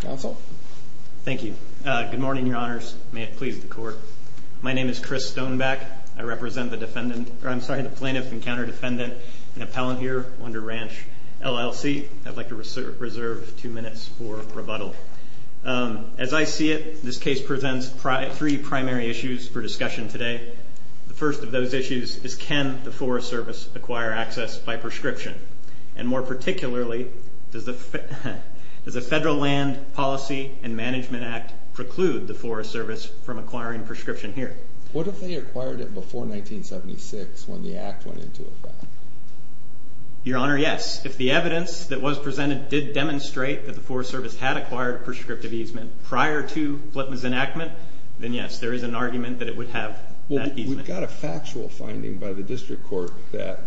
Council. Thank you. Good morning, Your Honors. May it please the Court. My name is Chris Stoneback. I represent the defendant, or I'm sorry, the plaintiff and counter-defendant and appellant here under Ranch, LLC. I'd like to reserve two minutes for rebuttal. As I see it, this case presents three primary issues for discussion today. The first of those issues is can the Forest Service acquire access by prescription? And more particularly, does the Federal Land Service Policy and Management Act preclude the Forest Service from acquiring prescription here? What if they acquired it before 1976 when the Act went into effect? Your Honor, yes. If the evidence that was presented did demonstrate that the Forest Service had acquired a prescriptive easement prior to Flipman's enactment, then yes, there is an argument that it would have that easement. We've got a factual finding by the District Court that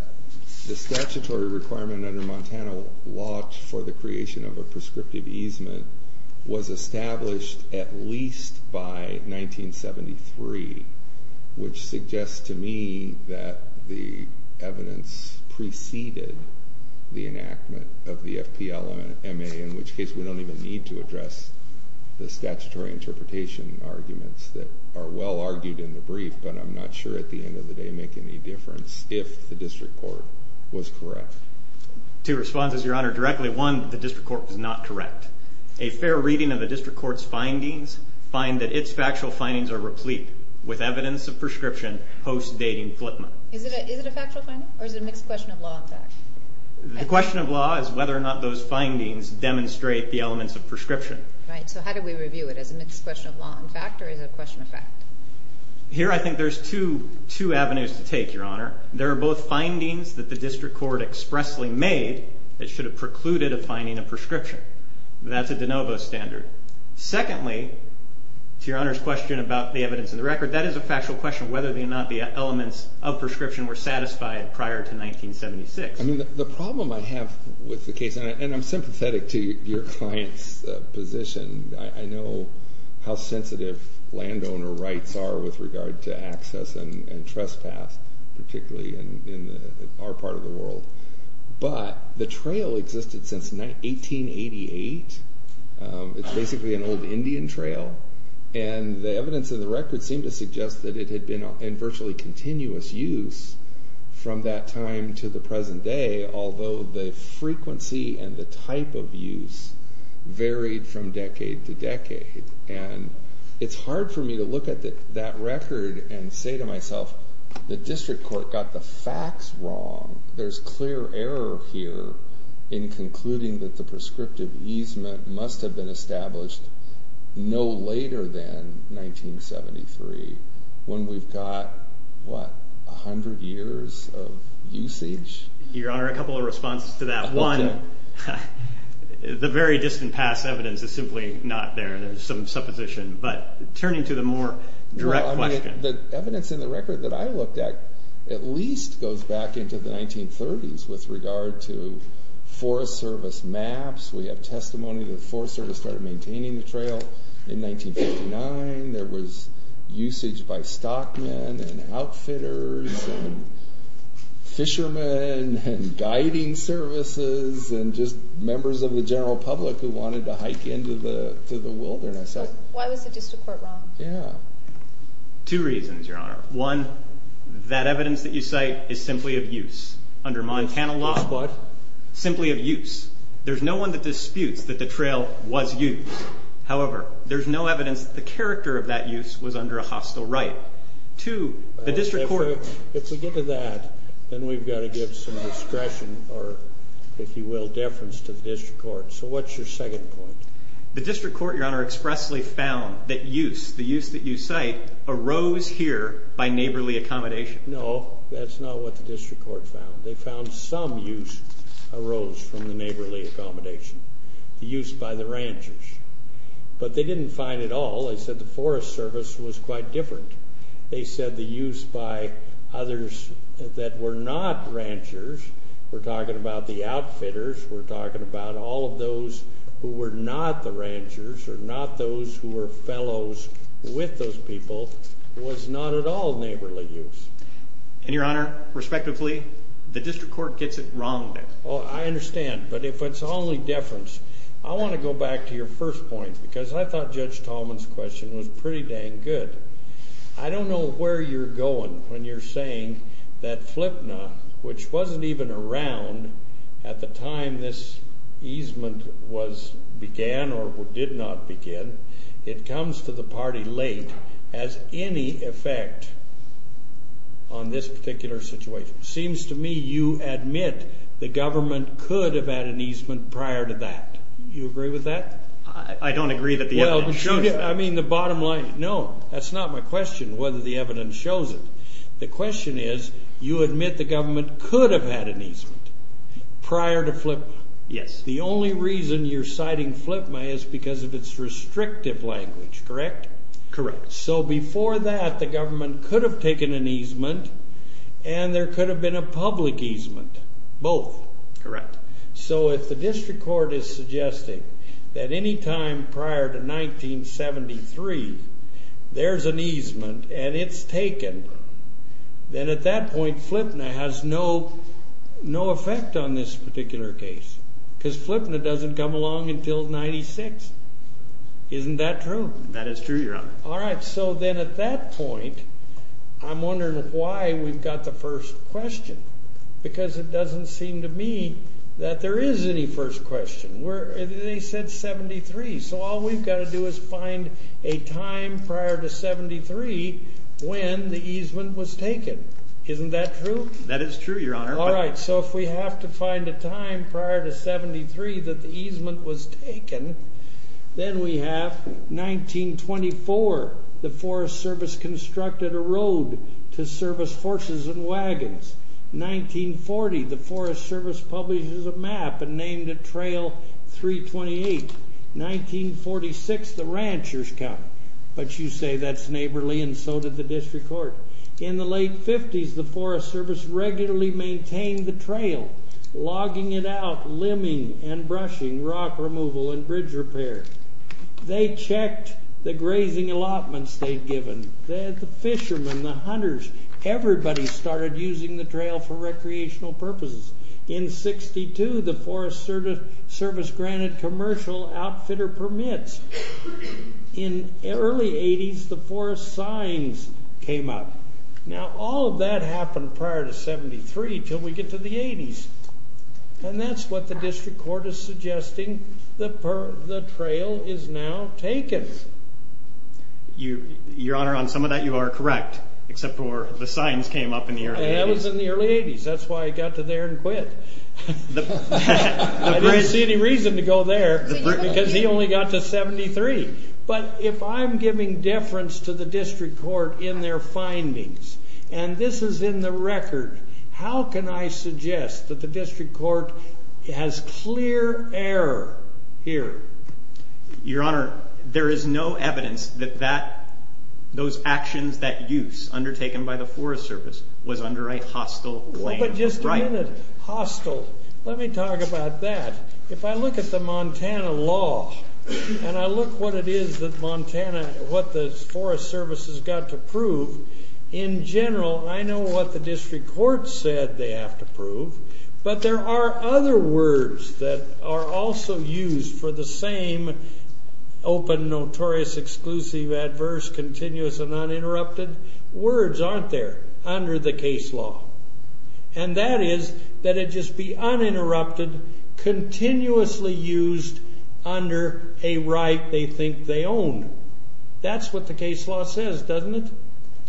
the statutory requirement under Montana law for the creation of a prescriptive easement was established at least by 1973, which suggests to me that the evidence preceded the enactment of the FPLMA, in which case we don't even need to address the statutory interpretation arguments that are well argued in the brief, but I'm not sure at the end of the day make any difference if the District Court was correct. Two responses, Your Honor, directly. One, the District Court was not correct. A fair reading of the District Court's findings find that its factual findings are replete with evidence of prescription post-dating Flipman. Is it a factual finding, or is it a mixed question of law and fact? The question of law is whether or not those findings demonstrate the elements of prescription. Right, so how do we review it? Is it a mixed question of law and fact, or is it a question of fact? Here I think there's two avenues to take, Your Honor. There are both findings that the District Court expressly made that should have precluded a finding of prescription. That's a de novo standard. Secondly, to Your Honor's question about the evidence in the record, that is a factual question of whether or not the elements of prescription were satisfied prior to 1976. The problem I have with the case, and I'm sympathetic to your client's position, I know how sensitive landowner rights are with regard to access and trespass, particularly in our part of the world. But the trail existed since 1888. It's basically an old Indian trail, and the evidence in the record seemed to suggest that it had been in virtually continuous use from that time to the present day, although the frequency and the type of use varied from decade to decade. And it's hard for me to look at that record and say to myself, the District Court got the facts wrong. There's clear error here in concluding that the prescriptive easement must have been established no later than 1973, when we've got, what, 100 years of usage? Your Honor, a couple of responses to that. One, the very distant past evidence is simply not there. There's some supposition. But turning to the more direct question. The evidence in the record that I looked at at least goes back into the 1930s with regard to Forest Service maps. We have testimony that the Forest Service started maintaining the trail in 1959. There was usage by stockmen and outfitters and fishermen and guiding services and just members of the general public who wanted to hike into the wilderness. Why was the District Court wrong? Two reasons, Your Honor. One, that evidence that you cite is simply of use under Montana law. Simply of use. There's no one that disputes that the trail was used. However, there's no evidence that the character of that use was under a hostile right. If we get to that, then we've got to give some discretion or, if you will, deference to the District Court. So what's your second point? The District Court, Your Honor, expressly found that use, the use that you cite, arose here by neighborly accommodation. No, that's not what the District Court found. They found some use arose from the neighborly accommodation. The use by the ranchers. But they didn't find it all. They said the Forest Service was quite different. They said the use by others that were not ranchers, we're talking about the outfitters, we're talking about all of those who were not the ranchers or not those who were fellows with those people, was not at all neighborly use. And, Your Honor, respectively, the District Court gets it wrong. Well, I understand. But if it's only deference, I want to go back to your first point because I thought Judge Tallman's question was pretty dang good. I don't know where you're going when you're saying that FLPNA, which wasn't even around at the time this easement began or did not begin, it comes to the party late as any effect on this particular situation. It seems to me you admit the government could have had an easement prior to that. Do you agree with that? I don't agree that the evidence shows it. I mean, the bottom line, no, that's not my question, whether the evidence shows it. The question is, you admit the government could have had an easement prior to FLPNA. Yes. The only reason you're citing FLPNA is because of its restrictive language, correct? Correct. So before that, the government could have taken an easement and there could have been a public easement, both. Correct. So if the District Court is suggesting that any time prior to 1973, there's an easement and it's taken, then at that point, FLPNA has no effect on this particular case. Because FLPNA doesn't come along until 96. Isn't that true? That is true, Your Honor. All right, so then at that point, I'm wondering why we've got the first question, because it doesn't seem to me that there is any first question. They said 73, so all we've got to do is find a time prior to 73 when the easement was taken. Isn't that true? That is true, Your Honor. All right, so if we have to find a time prior to 73 that the easement was taken, then we have 1924, the Forest Service constructed a road to service horses and wagons. 1940, the Forest Service publishes a map and named it Trail 328. 1946, the ranchers come. But you say that's neighborly and so did the District Court. In the late 50s, the Forest Service regularly maintained the trail, logging it out, limbing and brushing, rock removal and bridge repair. They checked the grazing allotments they'd given. The fishermen, the hunters, everybody started using the trail for recreational purposes. In 62, the Forest Service granted commercial outfitter permits. In the early 80s, the forest signs came up. Now, all of that happened prior to 73 until we get to the 80s, and that's what the District Court is suggesting the trail is now taken. Your Honor, on some of that, you are correct, except for the signs came up in the early 80s. That was in the early 80s. That's why I got to there and quit. I didn't see any reason to go there because he only got to 73. But if I'm giving deference to the District Court in their findings, and this is in the record, how can I suggest that the District Court has clear error here? Your Honor, there is no evidence that those actions, that use undertaken by the Forest Service was under a hostile claim of the right. Hostile. Let me talk about that. If I look at the Montana law, and I look what it is that Montana, what the Forest Service has got to prove, in general, I know what the District Court said they have to prove, but there are other words that are also used for the same open, notorious, exclusive, adverse, continuous, and uninterrupted. Words aren't there under the case law. And that is that it just be uninterrupted, continuously used under a right they think they own. That's what the case law says, doesn't it?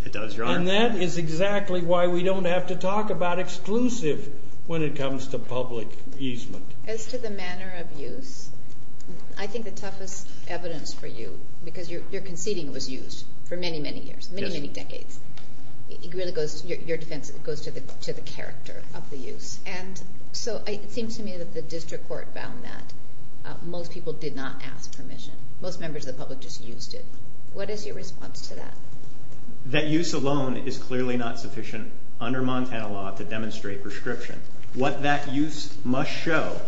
It does, Your Honor. And that is exactly why we don't have to talk about exclusive when it comes to public easement. As to the manner of use, I think the toughest evidence for you, because your conceding was used for many, many years, many, many decades. Your defense goes to the character of the use. And so it seems to me that the District Court found that most people did not ask permission. Most members of the public just used it. What is your response to that? That use alone is clearly not sufficient under Montana law to demonstrate prescription. What that use must show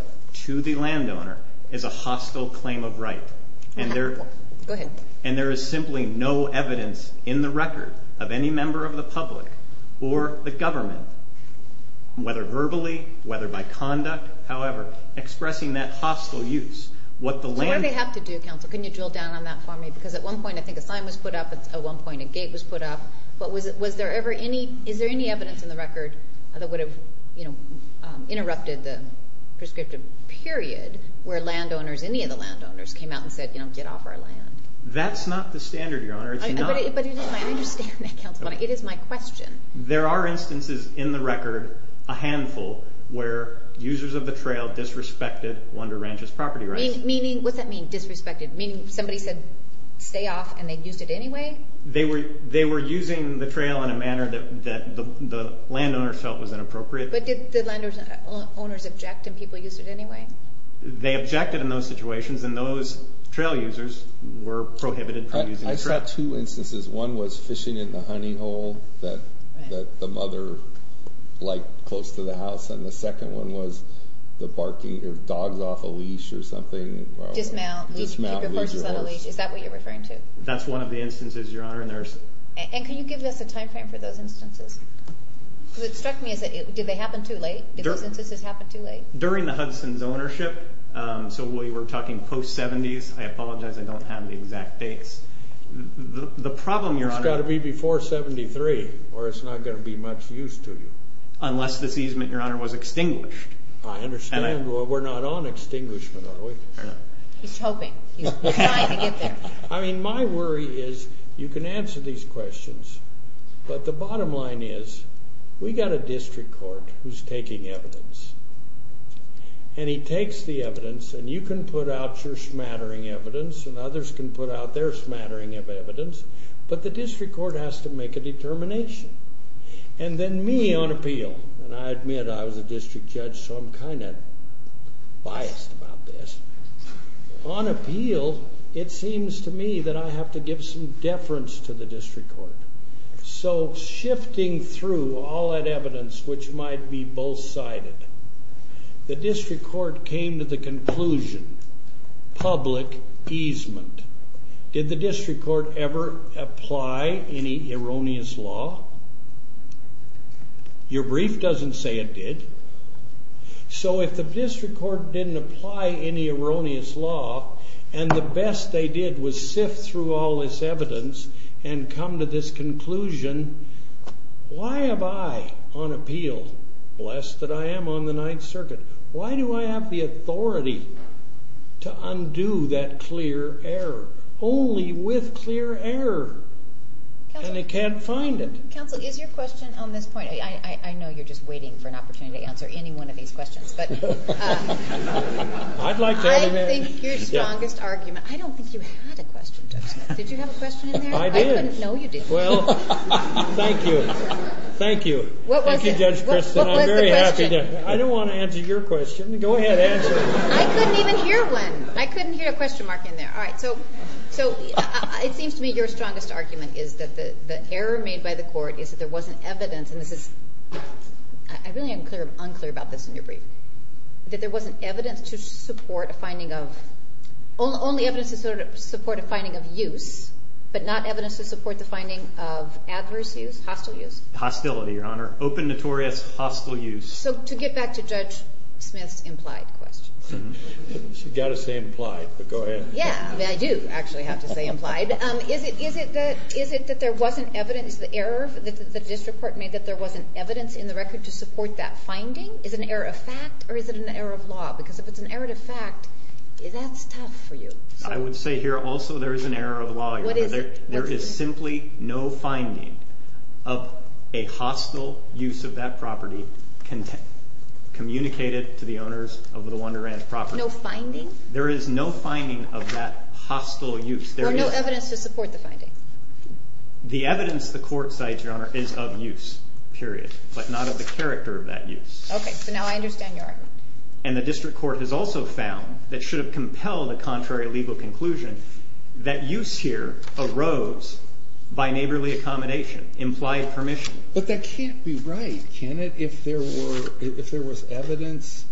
to the landowner is a hostile claim of right. Go ahead. And there is simply no evidence in the record of any member of the public or the government, whether verbally, whether by conduct, however, expressing that hostile use. So what did they have to do, counsel? Can you drill down on that for me? Because at one point I think a sign was put up. At one point a gate was put up. Is there any evidence in the record that would have interrupted the prescriptive period where landowners, any of the landowners, came out and said, you know, get off our land? That's not the standard, Your Honor. But it is my understanding, counsel. It is my question. There are instances in the record, a handful, where users of the trail disrespected Wonder Ranch's property rights. Meaning, what's that mean, disrespected? Meaning somebody said stay off and they used it anyway? They were using the trail in a manner that the landowners felt was inappropriate. But did the landowners object and people used it anyway? They objected in those situations, and those trail users were prohibited from using the trail. I saw two instances. One was fishing in the honey hole that the mother liked close to the house, and the second one was the barking of dogs off a leash or something. Dismount, leave your horses on a leash. Is that what you're referring to? That's one of the instances, Your Honor. And can you give us a time frame for those instances? Because it struck me as did they happen too late? Did those instances happen too late? During the Hudson's ownership. So we were talking post-'70s. I apologize, I don't have the exact dates. The problem, Your Honor. It's got to be before 73, or it's not going to be much use to you. Unless this easement, Your Honor, was extinguished. I understand. We're not on extinguishment, are we? He's hoping. He's trying to get there. I mean, my worry is you can answer these questions, but the bottom line is we've got a district court who's taking evidence. And he takes the evidence, and you can put out your smattering evidence, and others can put out their smattering of evidence, but the district court has to make a determination. And then me on appeal, and I admit I was a district judge, so I'm kind of biased about this. On appeal, it seems to me that I have to give some deference to the district court. So shifting through all that evidence, which might be both-sided, the district court came to the conclusion, public easement. Did the district court ever apply any erroneous law? Your brief doesn't say it did. So if the district court didn't apply any erroneous law and the best they did was sift through all this evidence and come to this conclusion, why am I on appeal lest that I am on the Ninth Circuit? Why do I have the authority to undo that clear error? Only with clear error. And they can't find it. Counsel, is your question on this point? I know you're just waiting for an opportunity to answer any one of these questions. I'd like to have an answer. I think your strongest argument- I don't think you had a question, Judge. Did you have a question in there? I did. No, you didn't. Well, thank you. Thank you, Judge Christin. I'm very happy to- What was the question? I don't want to answer your question. Go ahead, answer it. I couldn't even hear one. I couldn't hear a question mark in there. All right. So it seems to me your strongest argument is that the error made by the court is that there wasn't evidence- and this is- I really am unclear about this in your brief- that there wasn't evidence to support a finding of- only evidence to support a finding of use, but not evidence to support the finding of adverse use, hostile use. Hostility, Your Honor. Open, notorious, hostile use. So to get back to Judge Smith's implied question. She's got to say implied, but go ahead. Yeah, I do actually have to say implied. Is it that there wasn't evidence, the error that the district court made that there wasn't evidence in the record to support that finding? Is it an error of fact or is it an error of law? Because if it's an error of fact, that's tough for you. I would say here also there is an error of law. What is it? There is simply no finding of a hostile use of that property communicated to the owners of the Wonder Ranch property. No finding? There is no finding of that hostile use. Or no evidence to support the finding? The evidence the court cites, Your Honor, is of use, period, but not of the character of that use. Okay, so now I understand your argument. And the district court has also found that should have compelled a contrary legal conclusion, that use here arose by neighborly accommodation, implied permission. But that can't be right, can it? If there was evidence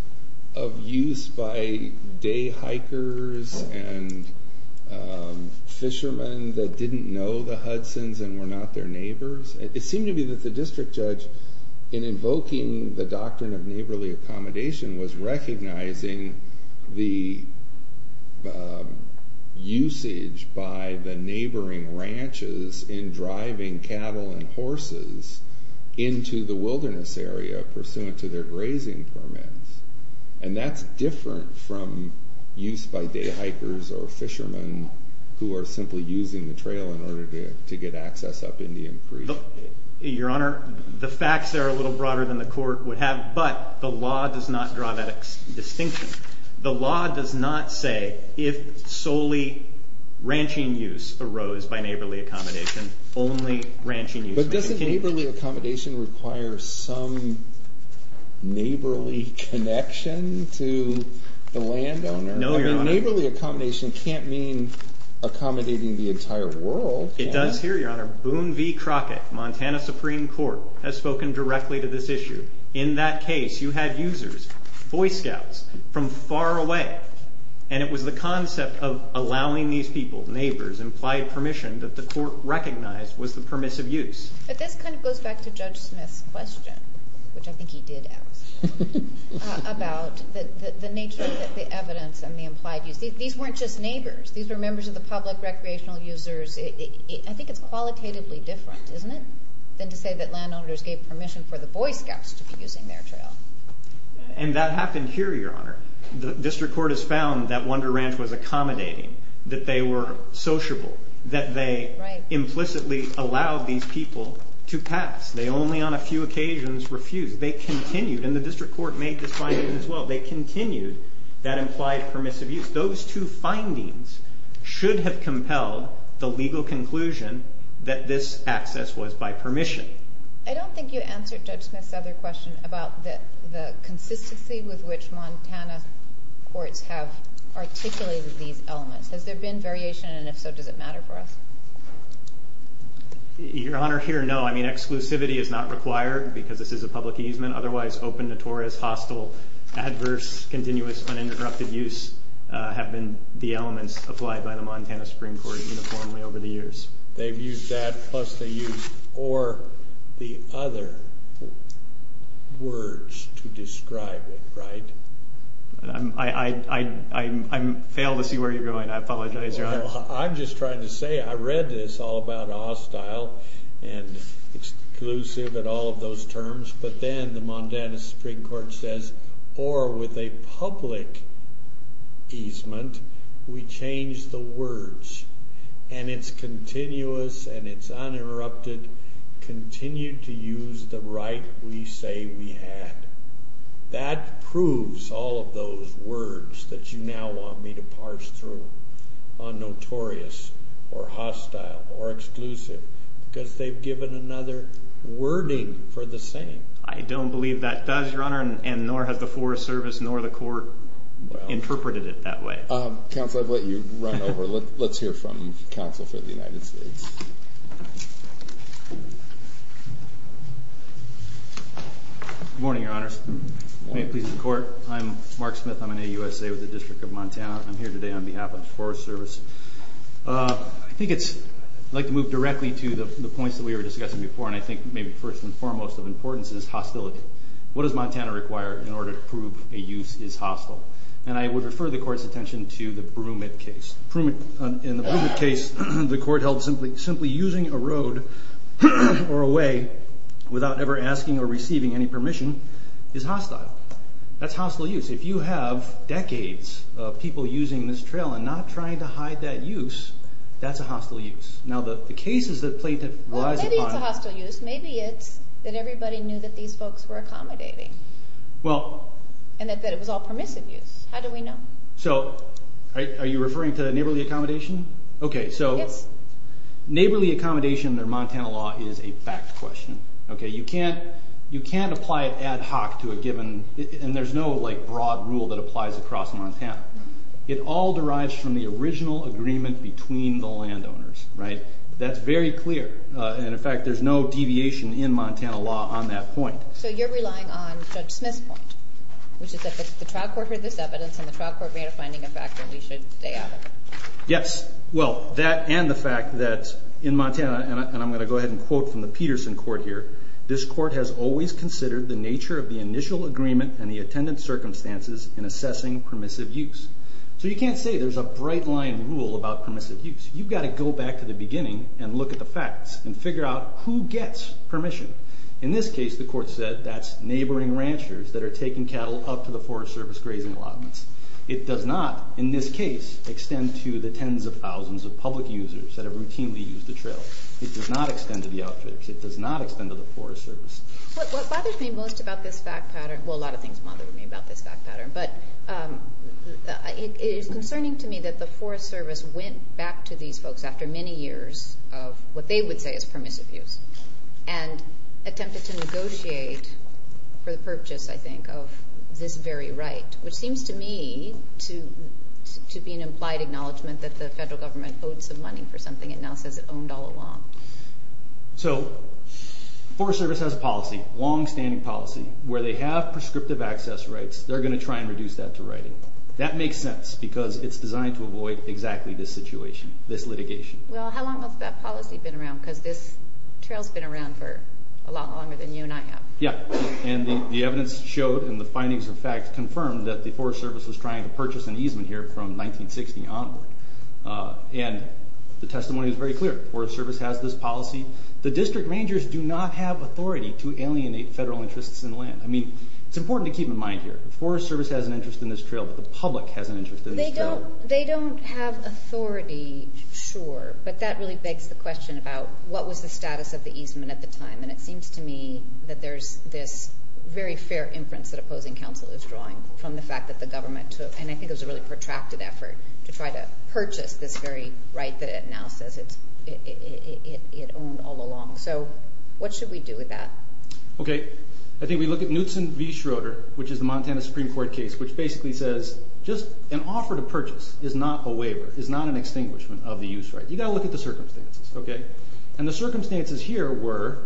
of use by day hikers and fishermen that didn't know the Hudsons and were not their neighbors. It seemed to me that the district judge, in invoking the doctrine of neighborly accommodation, was recognizing the usage by the neighboring ranches in driving cattle and horses into the wilderness area pursuant to their grazing permits. And that's different from use by day hikers or fishermen who are simply using the trail in order to get access up Indian Creek. Your Honor, the facts there are a little broader than the court would have, but the law does not draw that distinction. The law does not say if solely ranching use arose by neighborly accommodation, only ranching use. But doesn't neighborly accommodation require some neighborly connection to the landowner? No, Your Honor. Neighborly accommodation can't mean accommodating the entire world. It does here, Your Honor. Boone v. Crockett, Montana Supreme Court, has spoken directly to this issue. In that case, you had users, Boy Scouts, from far away, and it was the concept of allowing these people, neighbors, implied permission that the court recognized was the permissive use. But this kind of goes back to Judge Smith's question, which I think he did ask, about the nature of the evidence and the implied use. These weren't just neighbors. These were members of the public recreational users. I think it's qualitatively different, isn't it, than to say that landowners gave permission for the Boy Scouts to be using their trail. And that happened here, Your Honor. The district court has found that Wonder Ranch was accommodating, that they were sociable, that they implicitly allowed these people to pass. They only on a few occasions refused. They continued, and the district court made this finding as well, they continued that implied permissive use. Those two findings should have compelled the legal conclusion that this access was by permission. I don't think you answered Judge Smith's other question about the consistency with which Montana courts have articulated these elements. Has there been variation, and if so, does it matter for us? Your Honor, here, no. I mean, exclusivity is not required because this is a public easement. Otherwise, open, notorious, hostile, adverse, continuous, uninterrupted use have been the elements applied by the Montana Supreme Court uniformly over the years. They've used that plus the use or the other words to describe it, right? I fail to see where you're going. I apologize, Your Honor. Well, I'm just trying to say I read this all about hostile and exclusive and all of those terms, but then the Montana Supreme Court says, or with a public easement, we change the words, and it's continuous and it's uninterrupted, continue to use the right we say we had. That proves all of those words that you now want me to parse through on notorious or hostile or exclusive because they've given another wording for the same. I don't believe that does, Your Honor, and nor has the Forest Service nor the court interpreted it that way. Counsel, I've let you run over. Let's hear from counsel for the United States. Good morning, Your Honors. May it please the Court. I'm Mark Smith. I'm an AUSA with the District of Montana. I'm here today on behalf of the Forest Service. I'd like to move directly to the points that we were discussing before, and I think maybe first and foremost of importance is hostility. What does Montana require in order to prove a use is hostile? And I would refer the Court's attention to the Brumit case. In the Brumit case, the Court held simply that the use of hostile simply using a road or a way without ever asking or receiving any permission is hostile. That's hostile use. If you have decades of people using this trail and not trying to hide that use, that's a hostile use. Now, the cases that plaintiff relies upon. Well, maybe it's a hostile use. Maybe it's that everybody knew that these folks were accommodating and that it was all permissive use. How do we know? So are you referring to neighborly accommodation? Okay, so neighborly accommodation under Montana law is a fact question. You can't apply it ad hoc to a given, and there's no broad rule that applies across Montana. It all derives from the original agreement between the landowners. That's very clear. And, in fact, there's no deviation in Montana law on that point. So you're relying on Judge Smith's point, which is that the trial court heard this evidence and the trial court made a finding of fact that we should stay out of it. Yes, well, that and the fact that in Montana, and I'm going to go ahead and quote from the Peterson court here, this court has always considered the nature of the initial agreement and the attendant circumstances in assessing permissive use. So you can't say there's a bright line rule about permissive use. You've got to go back to the beginning and look at the facts and figure out who gets permission. In this case, the court said that's neighboring ranchers that are taking cattle up to the Forest Service grazing allotments. It does not, in this case, extend to the tens of thousands of public users that have routinely used the trail. It does not extend to the outfitters. It does not extend to the Forest Service. What bothers me most about this fact pattern, well, a lot of things bother me about this fact pattern, but it is concerning to me that the Forest Service went back to these folks after many years of what they would say is permissive use and attempted to negotiate for the purchase, I think, of this very right, which seems to me to be an implied acknowledgement that the federal government owed some money for something it now says it owned all along. So the Forest Service has a policy, a longstanding policy, where they have prescriptive access rights. They're going to try and reduce that to writing. That makes sense because it's designed to avoid exactly this situation, this litigation. Well, how long has that policy been around? Because this trail's been around for a lot longer than you and I have. Yeah, and the evidence showed and the findings of fact confirmed that the Forest Service was trying to purchase an easement here from 1960 onward. And the testimony is very clear. The Forest Service has this policy. The district rangers do not have authority to alienate federal interests in land. I mean, it's important to keep in mind here. The Forest Service has an interest in this trail, but the public has an interest in this trail. They don't have authority, sure, but that really begs the question about what was the status of the easement at the time. And it seems to me that there's this very fair inference that opposing counsel is drawing from the fact that the government took, and I think it was a really protracted effort, to try to purchase this very right that it now says it owned all along. So what should we do with that? Okay. I think we look at Knutson v. Schroeder, which is the Montana Supreme Court case, which basically says just an offer to purchase is not a waiver, is not an extinguishment of the use right. You've got to look at the circumstances, okay? And the circumstances here were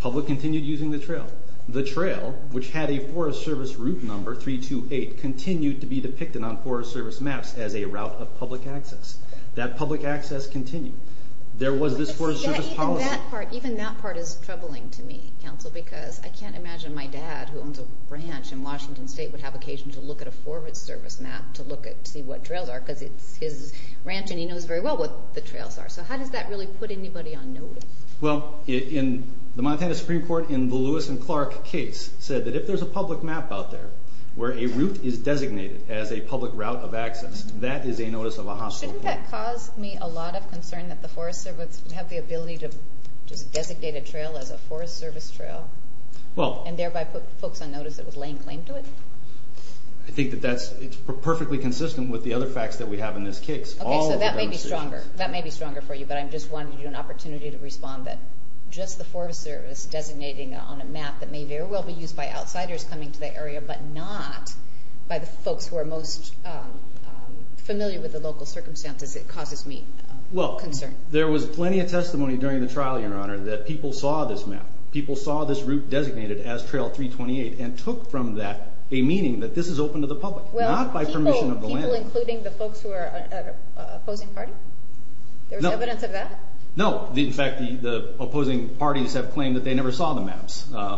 public continued using the trail. The trail, which had a Forest Service route number, 328, continued to be depicted on Forest Service maps as a route of public access. That public access continued. There was this Forest Service policy. Even that part is troubling to me, Counsel, because I can't imagine my dad, who owns a branch in Washington State, would have occasion to look at a Forest Service map to see what trails are, because it's his ranch and he knows very well what the trails are. So how does that really put anybody on notice? Well, the Montana Supreme Court in the Lewis and Clark case said that if there's a public map out there where a route is designated as a public route of access, that is a notice of a hostile point. Shouldn't that cause me a lot of concern that the Forest Service would have the ability to just designate a trail as a Forest Service trail and thereby put folks on notice that was laying claim to it? I think that that's perfectly consistent with the other facts that we have in this case. Okay, so that may be stronger. That may be stronger for you, but I just wanted you an opportunity to respond that just the Forest Service designating on a map that may very well be used by outsiders coming to the area, but not by the folks who are most familiar with the local circumstances, it causes me concern. Well, there was plenty of testimony during the trial, Your Honor, that people saw this map. People saw this route designated as Trail 328 and took from that a meaning that this is open to the public, not by permission of the landowner. People including the folks who are an opposing party? There was evidence of that? No. In fact, the opposing parties have claimed that they never saw the maps. You're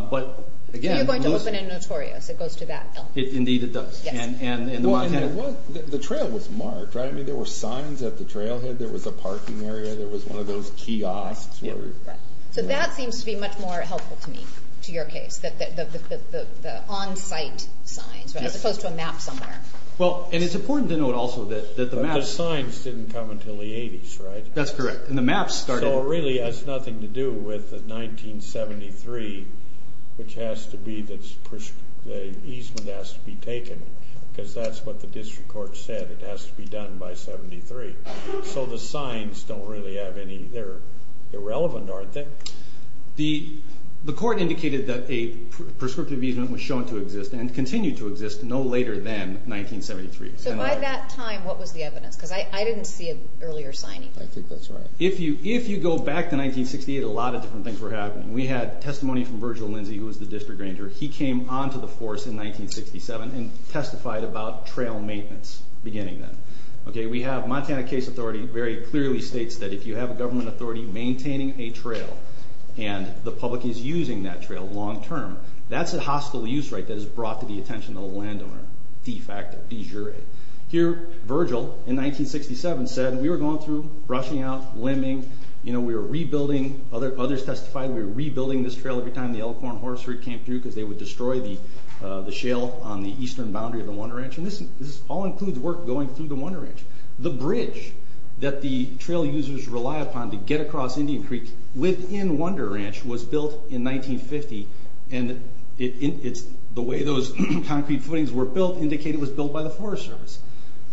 going to open in Notorious. It goes to that, though. Indeed, it does. The trail was marked, right? I mean, there were signs at the trailhead. There was a parking area. There was one of those kiosks. So that seems to be much more helpful to me, to your case, the on-site signs as opposed to a map somewhere. Well, and it's important to note also that the maps... The signs didn't come until the 80s, right? That's correct. And the maps started... So it really has nothing to do with 1973, which has to be that the easement has to be taken because that's what the district court said. It has to be done by 73. So the signs don't really have any... They're irrelevant, aren't they? The court indicated that a prescriptive easement was shown to exist and continued to exist no later than 1973. So by that time, what was the evidence? Because I didn't see an earlier signing. I think that's right. If you go back to 1968, a lot of different things were happening. We had testimony from Virgil Lindsay, who was the district ranger. He came onto the force in 1967 and testified about trail maintenance beginning then. We have Montana Case Authority very clearly states that if you have a government authority maintaining a trail and the public is using that trail long-term, that's a hostile use right that is brought to the attention of the landowner, de facto, de jure. Here, Virgil, in 1967, said we were going through brushing out, limbing, you know, we were rebuilding. Others testified we were rebuilding this trail every time the Elephorn Horse Route came through because they would destroy the shale on the eastern boundary of the Wonder Ranch. And this all includes work going through the Wonder Ranch. The bridge that the trail users rely upon to get across Indian Creek within Wonder Ranch was built in 1950, and the way those concrete footings were built indicated it was built by the Forest Service.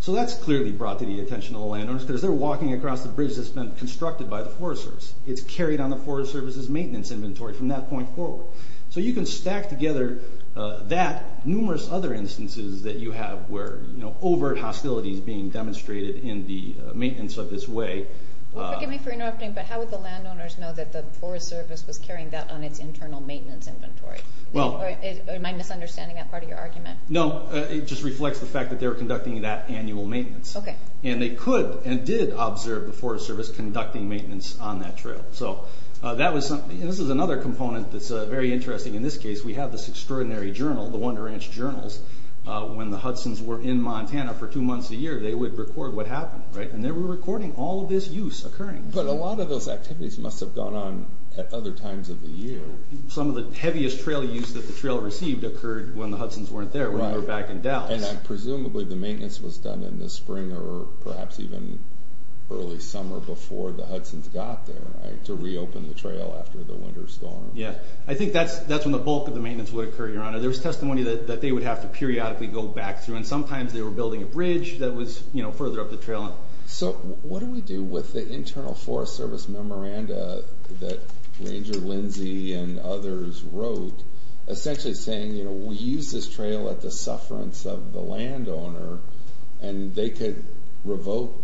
So that's clearly brought to the attention of the landowners because they're walking across the bridge that's been constructed by the Forest Service. It's carried on the Forest Service's maintenance inventory from that point forward. So you can stack together that, numerous other instances that you have where overt hostilities being demonstrated in the maintenance of this way. Forgive me for interrupting, but how would the landowners know that the Forest Service was carrying that on its internal maintenance inventory? Am I misunderstanding that part of your argument? No, it just reflects the fact that they were conducting that annual maintenance. And they could and did observe the Forest Service conducting maintenance on that trail. This is another component that's very interesting. In this case, we have this extraordinary journal, the Wonder Ranch Journals. When the Hudson's were in Montana for two months a year, they would record what happened, right? And they were recording all of this use occurring. But a lot of those activities must have gone on at other times of the year. Some of the heaviest trail use that the trail received occurred when the Hudson's weren't there, when they were back in Dallas. And presumably the maintenance was done in the spring or perhaps even early summer before the Hudson's got there, right? To reopen the trail after the winter storm. Yeah, I think that's when the bulk of the maintenance would occur, Your Honor. There's testimony that they would have to periodically go back through. And sometimes they were building a bridge that was further up the trail. So what do we do with the internal Forest Service memoranda that Ranger Lindsay and others wrote, essentially saying we use this trail at the sufferance of the landowner and they could revoke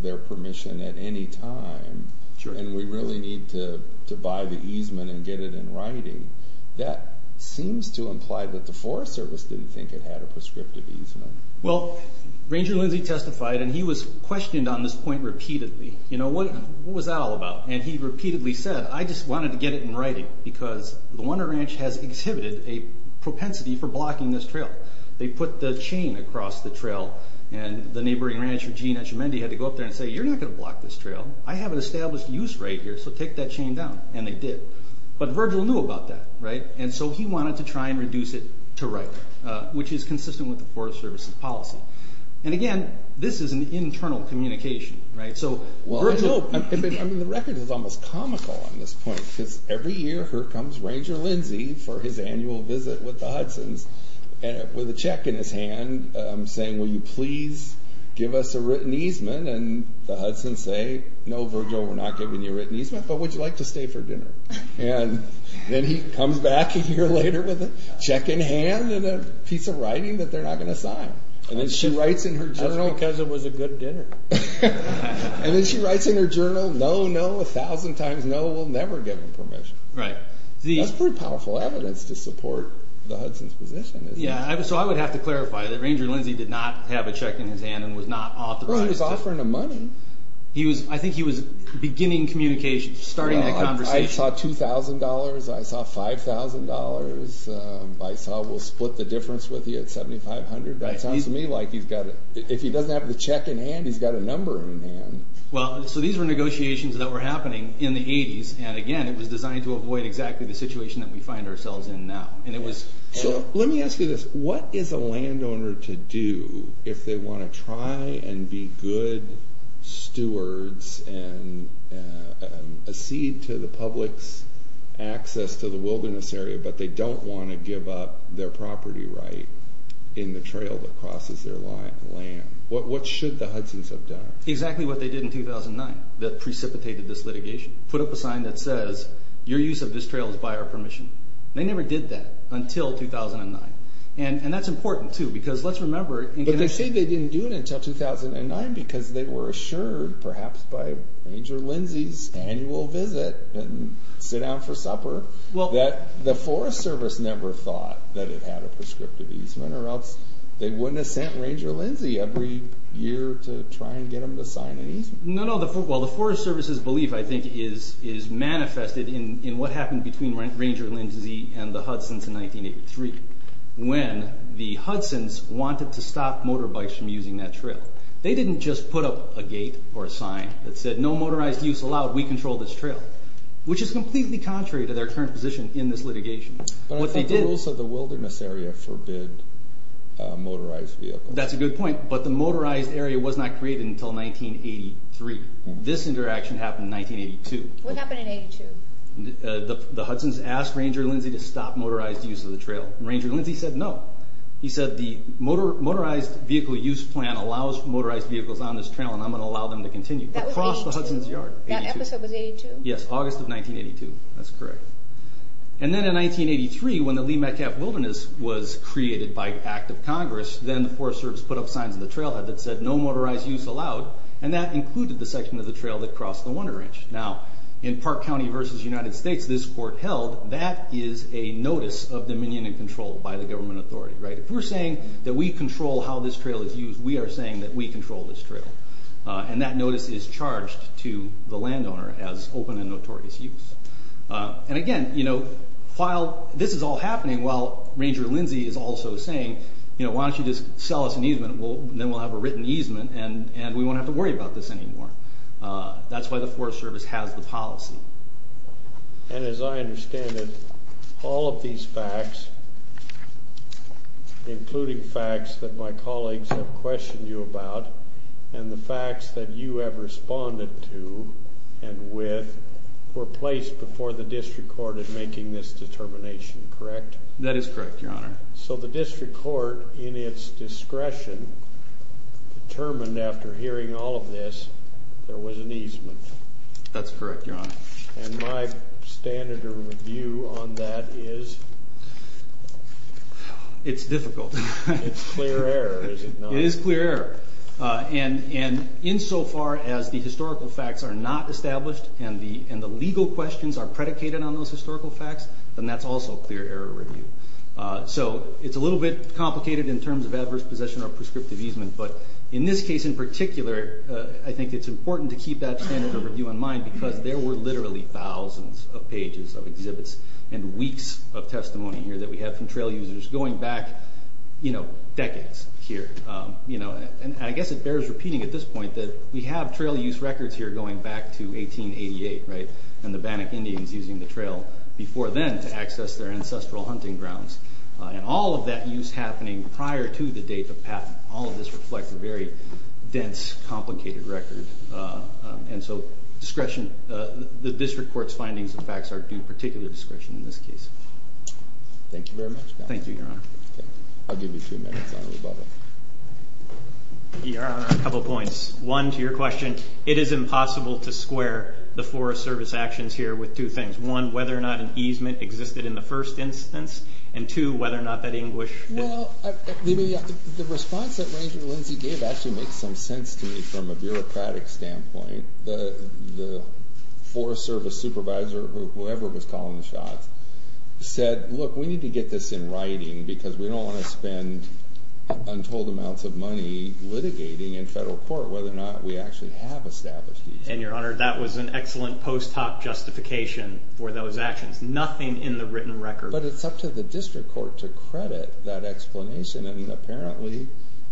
their permission at any time and we really need to buy the easement and get it in writing? That seems to imply that the Forest Service didn't think it had a prescriptive easement. Well, Ranger Lindsay testified and he was questioned on this point repeatedly. What was that all about? And he repeatedly said, I just wanted to get it in writing because the Wonder Ranch has exhibited a propensity for blocking this trail. They put the chain across the trail and the neighboring rancher, Gene Etchemendy, had to go up there and say, you're not going to block this trail. I have an established use right here, so take that chain down. And they did. But Virgil knew about that, right? And so he wanted to try and reduce it to writing, which is consistent with the Forest Service's policy. And again, this is an internal communication, right? Virgil, the record is almost comical on this point because every year here comes Ranger Lindsay for his annual visit with the Hudson's with a check in his hand saying, will you please give us a written easement? And the Hudson's say, no, Virgil, we're not giving you a written easement, but would you like to stay for dinner? And then he comes back a year later with a check in hand and a piece of writing that they're not going to sign. And then she writes in her journal, just because it was a good dinner. And then she writes in her journal, no, no, a thousand times no, we'll never give him permission. That's pretty powerful evidence to support the Hudson's position. Yeah, so I would have to clarify that Ranger Lindsay did not have a check in his hand and was not authorized to. Well, he was offering them money. I think he was beginning communication, starting that conversation. I saw $2,000. I saw $5,000. I saw we'll split the difference with you at $7,500. That sounds to me like he's got a, if he doesn't have the check in hand, he's got a number in hand. Well, so these were negotiations that were happening in the 80s. And again, it was designed to avoid exactly the situation that we find ourselves in now. Let me ask you this. What is a landowner to do if they want to try and be good stewards and a seed to the public's access to the wilderness area, but they don't want to give up their property right in the trail that crosses their land? What should the Hudson's have done? Exactly what they did in 2009 that precipitated this litigation. Put up a sign that says, your use of this trail is by our permission. They never did that until 2009. And that's important, too, because let's remember. But they say they didn't do it until 2009 because they were assured, perhaps by Ranger Lindsay's annual visit and sit down for supper, that the Forest Service never thought that it had a prescriptive easement, or else they wouldn't have sent Ranger Lindsay every year to try and get them to sign an easement. No, no. Well, the Forest Service's belief, I think, is manifested in what happened between Ranger Lindsay and the Hudson's in 1983 when the Hudson's wanted to stop motorbikes from using that trail. They didn't just put up a gate or a sign that said, no motorized use allowed, we control this trail, which is completely contrary to their current position in this litigation. But I think the rules of the wilderness area forbid motorized vehicles. That's a good point, but the motorized area was not created until 1983. This interaction happened in 1982. What happened in 1982? The Hudson's asked Ranger Lindsay to stop motorized use of the trail. Ranger Lindsay said no. He said the motorized vehicle use plan allows motorized vehicles on this trail, and I'm going to allow them to continue across the Hudson's yard. That episode was 1982? Yes, August of 1982. That's correct. Then in 1983, when the Lee Metcalf Wilderness was created by an act of Congress, then the Forest Service put up signs on the trail that said no motorized use allowed, and that included the section of the trail that crossed the Wonder Ridge. Now, in Park County v. United States, this court held that is a notice of dominion and control by the government authority. If we're saying that we control how this trail is used, we are saying that we control this trail, and that notice is charged to the landowner as open and notorious use. Again, while this is all happening, Ranger Lindsay is also saying, why don't you just sell us an easement, and then we'll have a written easement, and we won't have to worry about this anymore. That's why the Forest Service has the policy. And as I understand it, all of these facts, including facts that my colleagues have questioned you about, and the facts that you have responded to and with, were placed before the district court in making this determination, correct? That is correct, Your Honor. So the district court, in its discretion, determined after hearing all of this, there was an easement. That's correct, Your Honor. And my standard of review on that is? It's difficult. It's clear error, is it not? It is clear error. And insofar as the historical facts are not established, and the legal questions are predicated on those historical facts, then that's also clear error review. So it's a little bit complicated in terms of adverse possession or prescriptive easement, but in this case in particular, I think it's important to keep that standard of review in mind because there were literally thousands of pages of exhibits and weeks of testimony here that we have from trail users going back decades here. And I guess it bears repeating at this point that we have trail use records here going back to 1888, right? And the Bannock Indians using the trail before then to access their ancestral hunting grounds. And all of that use happening prior to the date of patent, all of this reflects a very dense, complicated record. And so discretion, the district court's findings and facts are due particular discretion in this case. Thank you very much. Thank you, Your Honor. I'll give you two minutes, Honorable Butler. Your Honor, a couple points. One, to your question, it is impossible to square the Forest Service actions here with two things. One, whether or not an easement existed in the first instance, and two, whether or not that English... Well, the response that Ranger Lindsay gave actually makes some sense to me from a bureaucratic standpoint. The Forest Service supervisor, whoever was calling the shots, said, look, we need to get this in writing because we don't want to spend untold amounts of money litigating in federal court whether or not we actually have established the easement. And, Your Honor, that was an excellent post hoc justification for those actions. Nothing in the written record... But it's up to the district court to credit that explanation, and apparently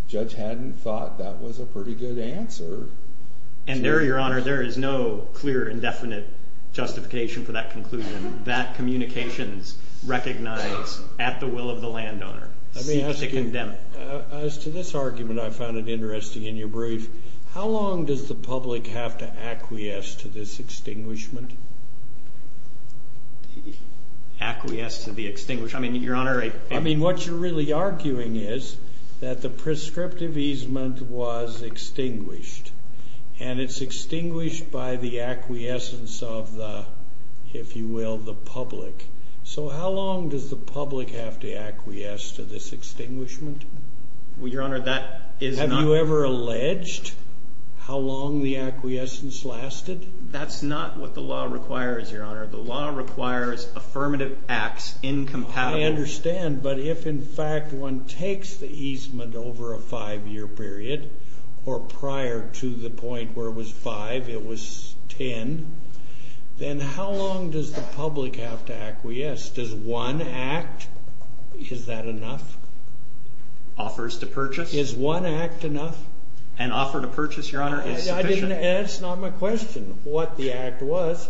Judge Haddon thought that was a pretty good answer. And there, Your Honor, there is no clear and definite justification for that conclusion. That communication is recognized at the will of the landowner. I mean, as to this argument, I found it interesting in your brief. How long does the public have to acquiesce to this extinguishment? Acquiesce to the extinguishment? I mean, Your Honor, I... I mean, what you're really arguing is that the prescriptive easement was extinguished, and it's extinguished by the acquiescence of the, if you will, the public. So how long does the public have to acquiesce to this extinguishment? Well, Your Honor, that is not... Have you ever alleged how long the acquiescence lasted? That's not what the law requires, Your Honor. The law requires affirmative acts incompatible... I understand, but if, in fact, one takes the easement over a five-year period or prior to the point where it was five, it was ten, then how long does the public have to acquiesce? Does one act, is that enough? Offers to purchase? Is one act enough? An offer to purchase, Your Honor, is sufficient? That's not my question, what the act was.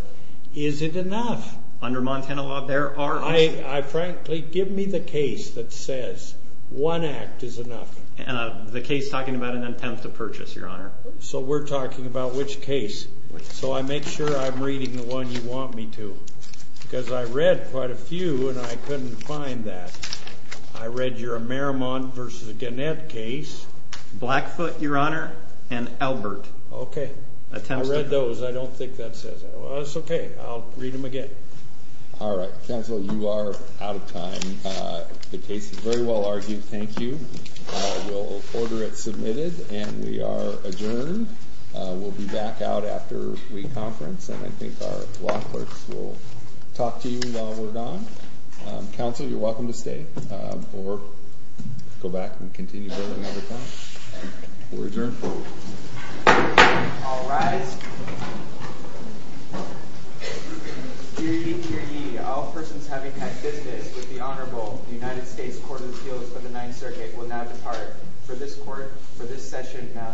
Is it enough? Under Montana law, there are... Frankly, give me the case that says one act is enough. The case talking about an attempt to purchase, Your Honor. So we're talking about which case. So I make sure I'm reading the one you want me to, because I read quite a few and I couldn't find that. I read your Maramont v. Gannett case. Blackfoot, Your Honor, and Albert. Okay. I read those. I don't think that says it. Well, that's okay. I'll read them again. All right. Counsel, you are out of time. The case is very well argued. Thank you. We'll order it submitted, and we are adjourned. We'll be back out after we conference, and I think our law clerks will talk to you while we're gone. Counsel, you're welcome to stay or go back and continue building another time. We're adjourned. All rise. Dear ye, dear ye, all persons having had business with the Honorable United States Court of Appeals for the Ninth Circuit will now depart. For this court, for this session, now stands adjourned.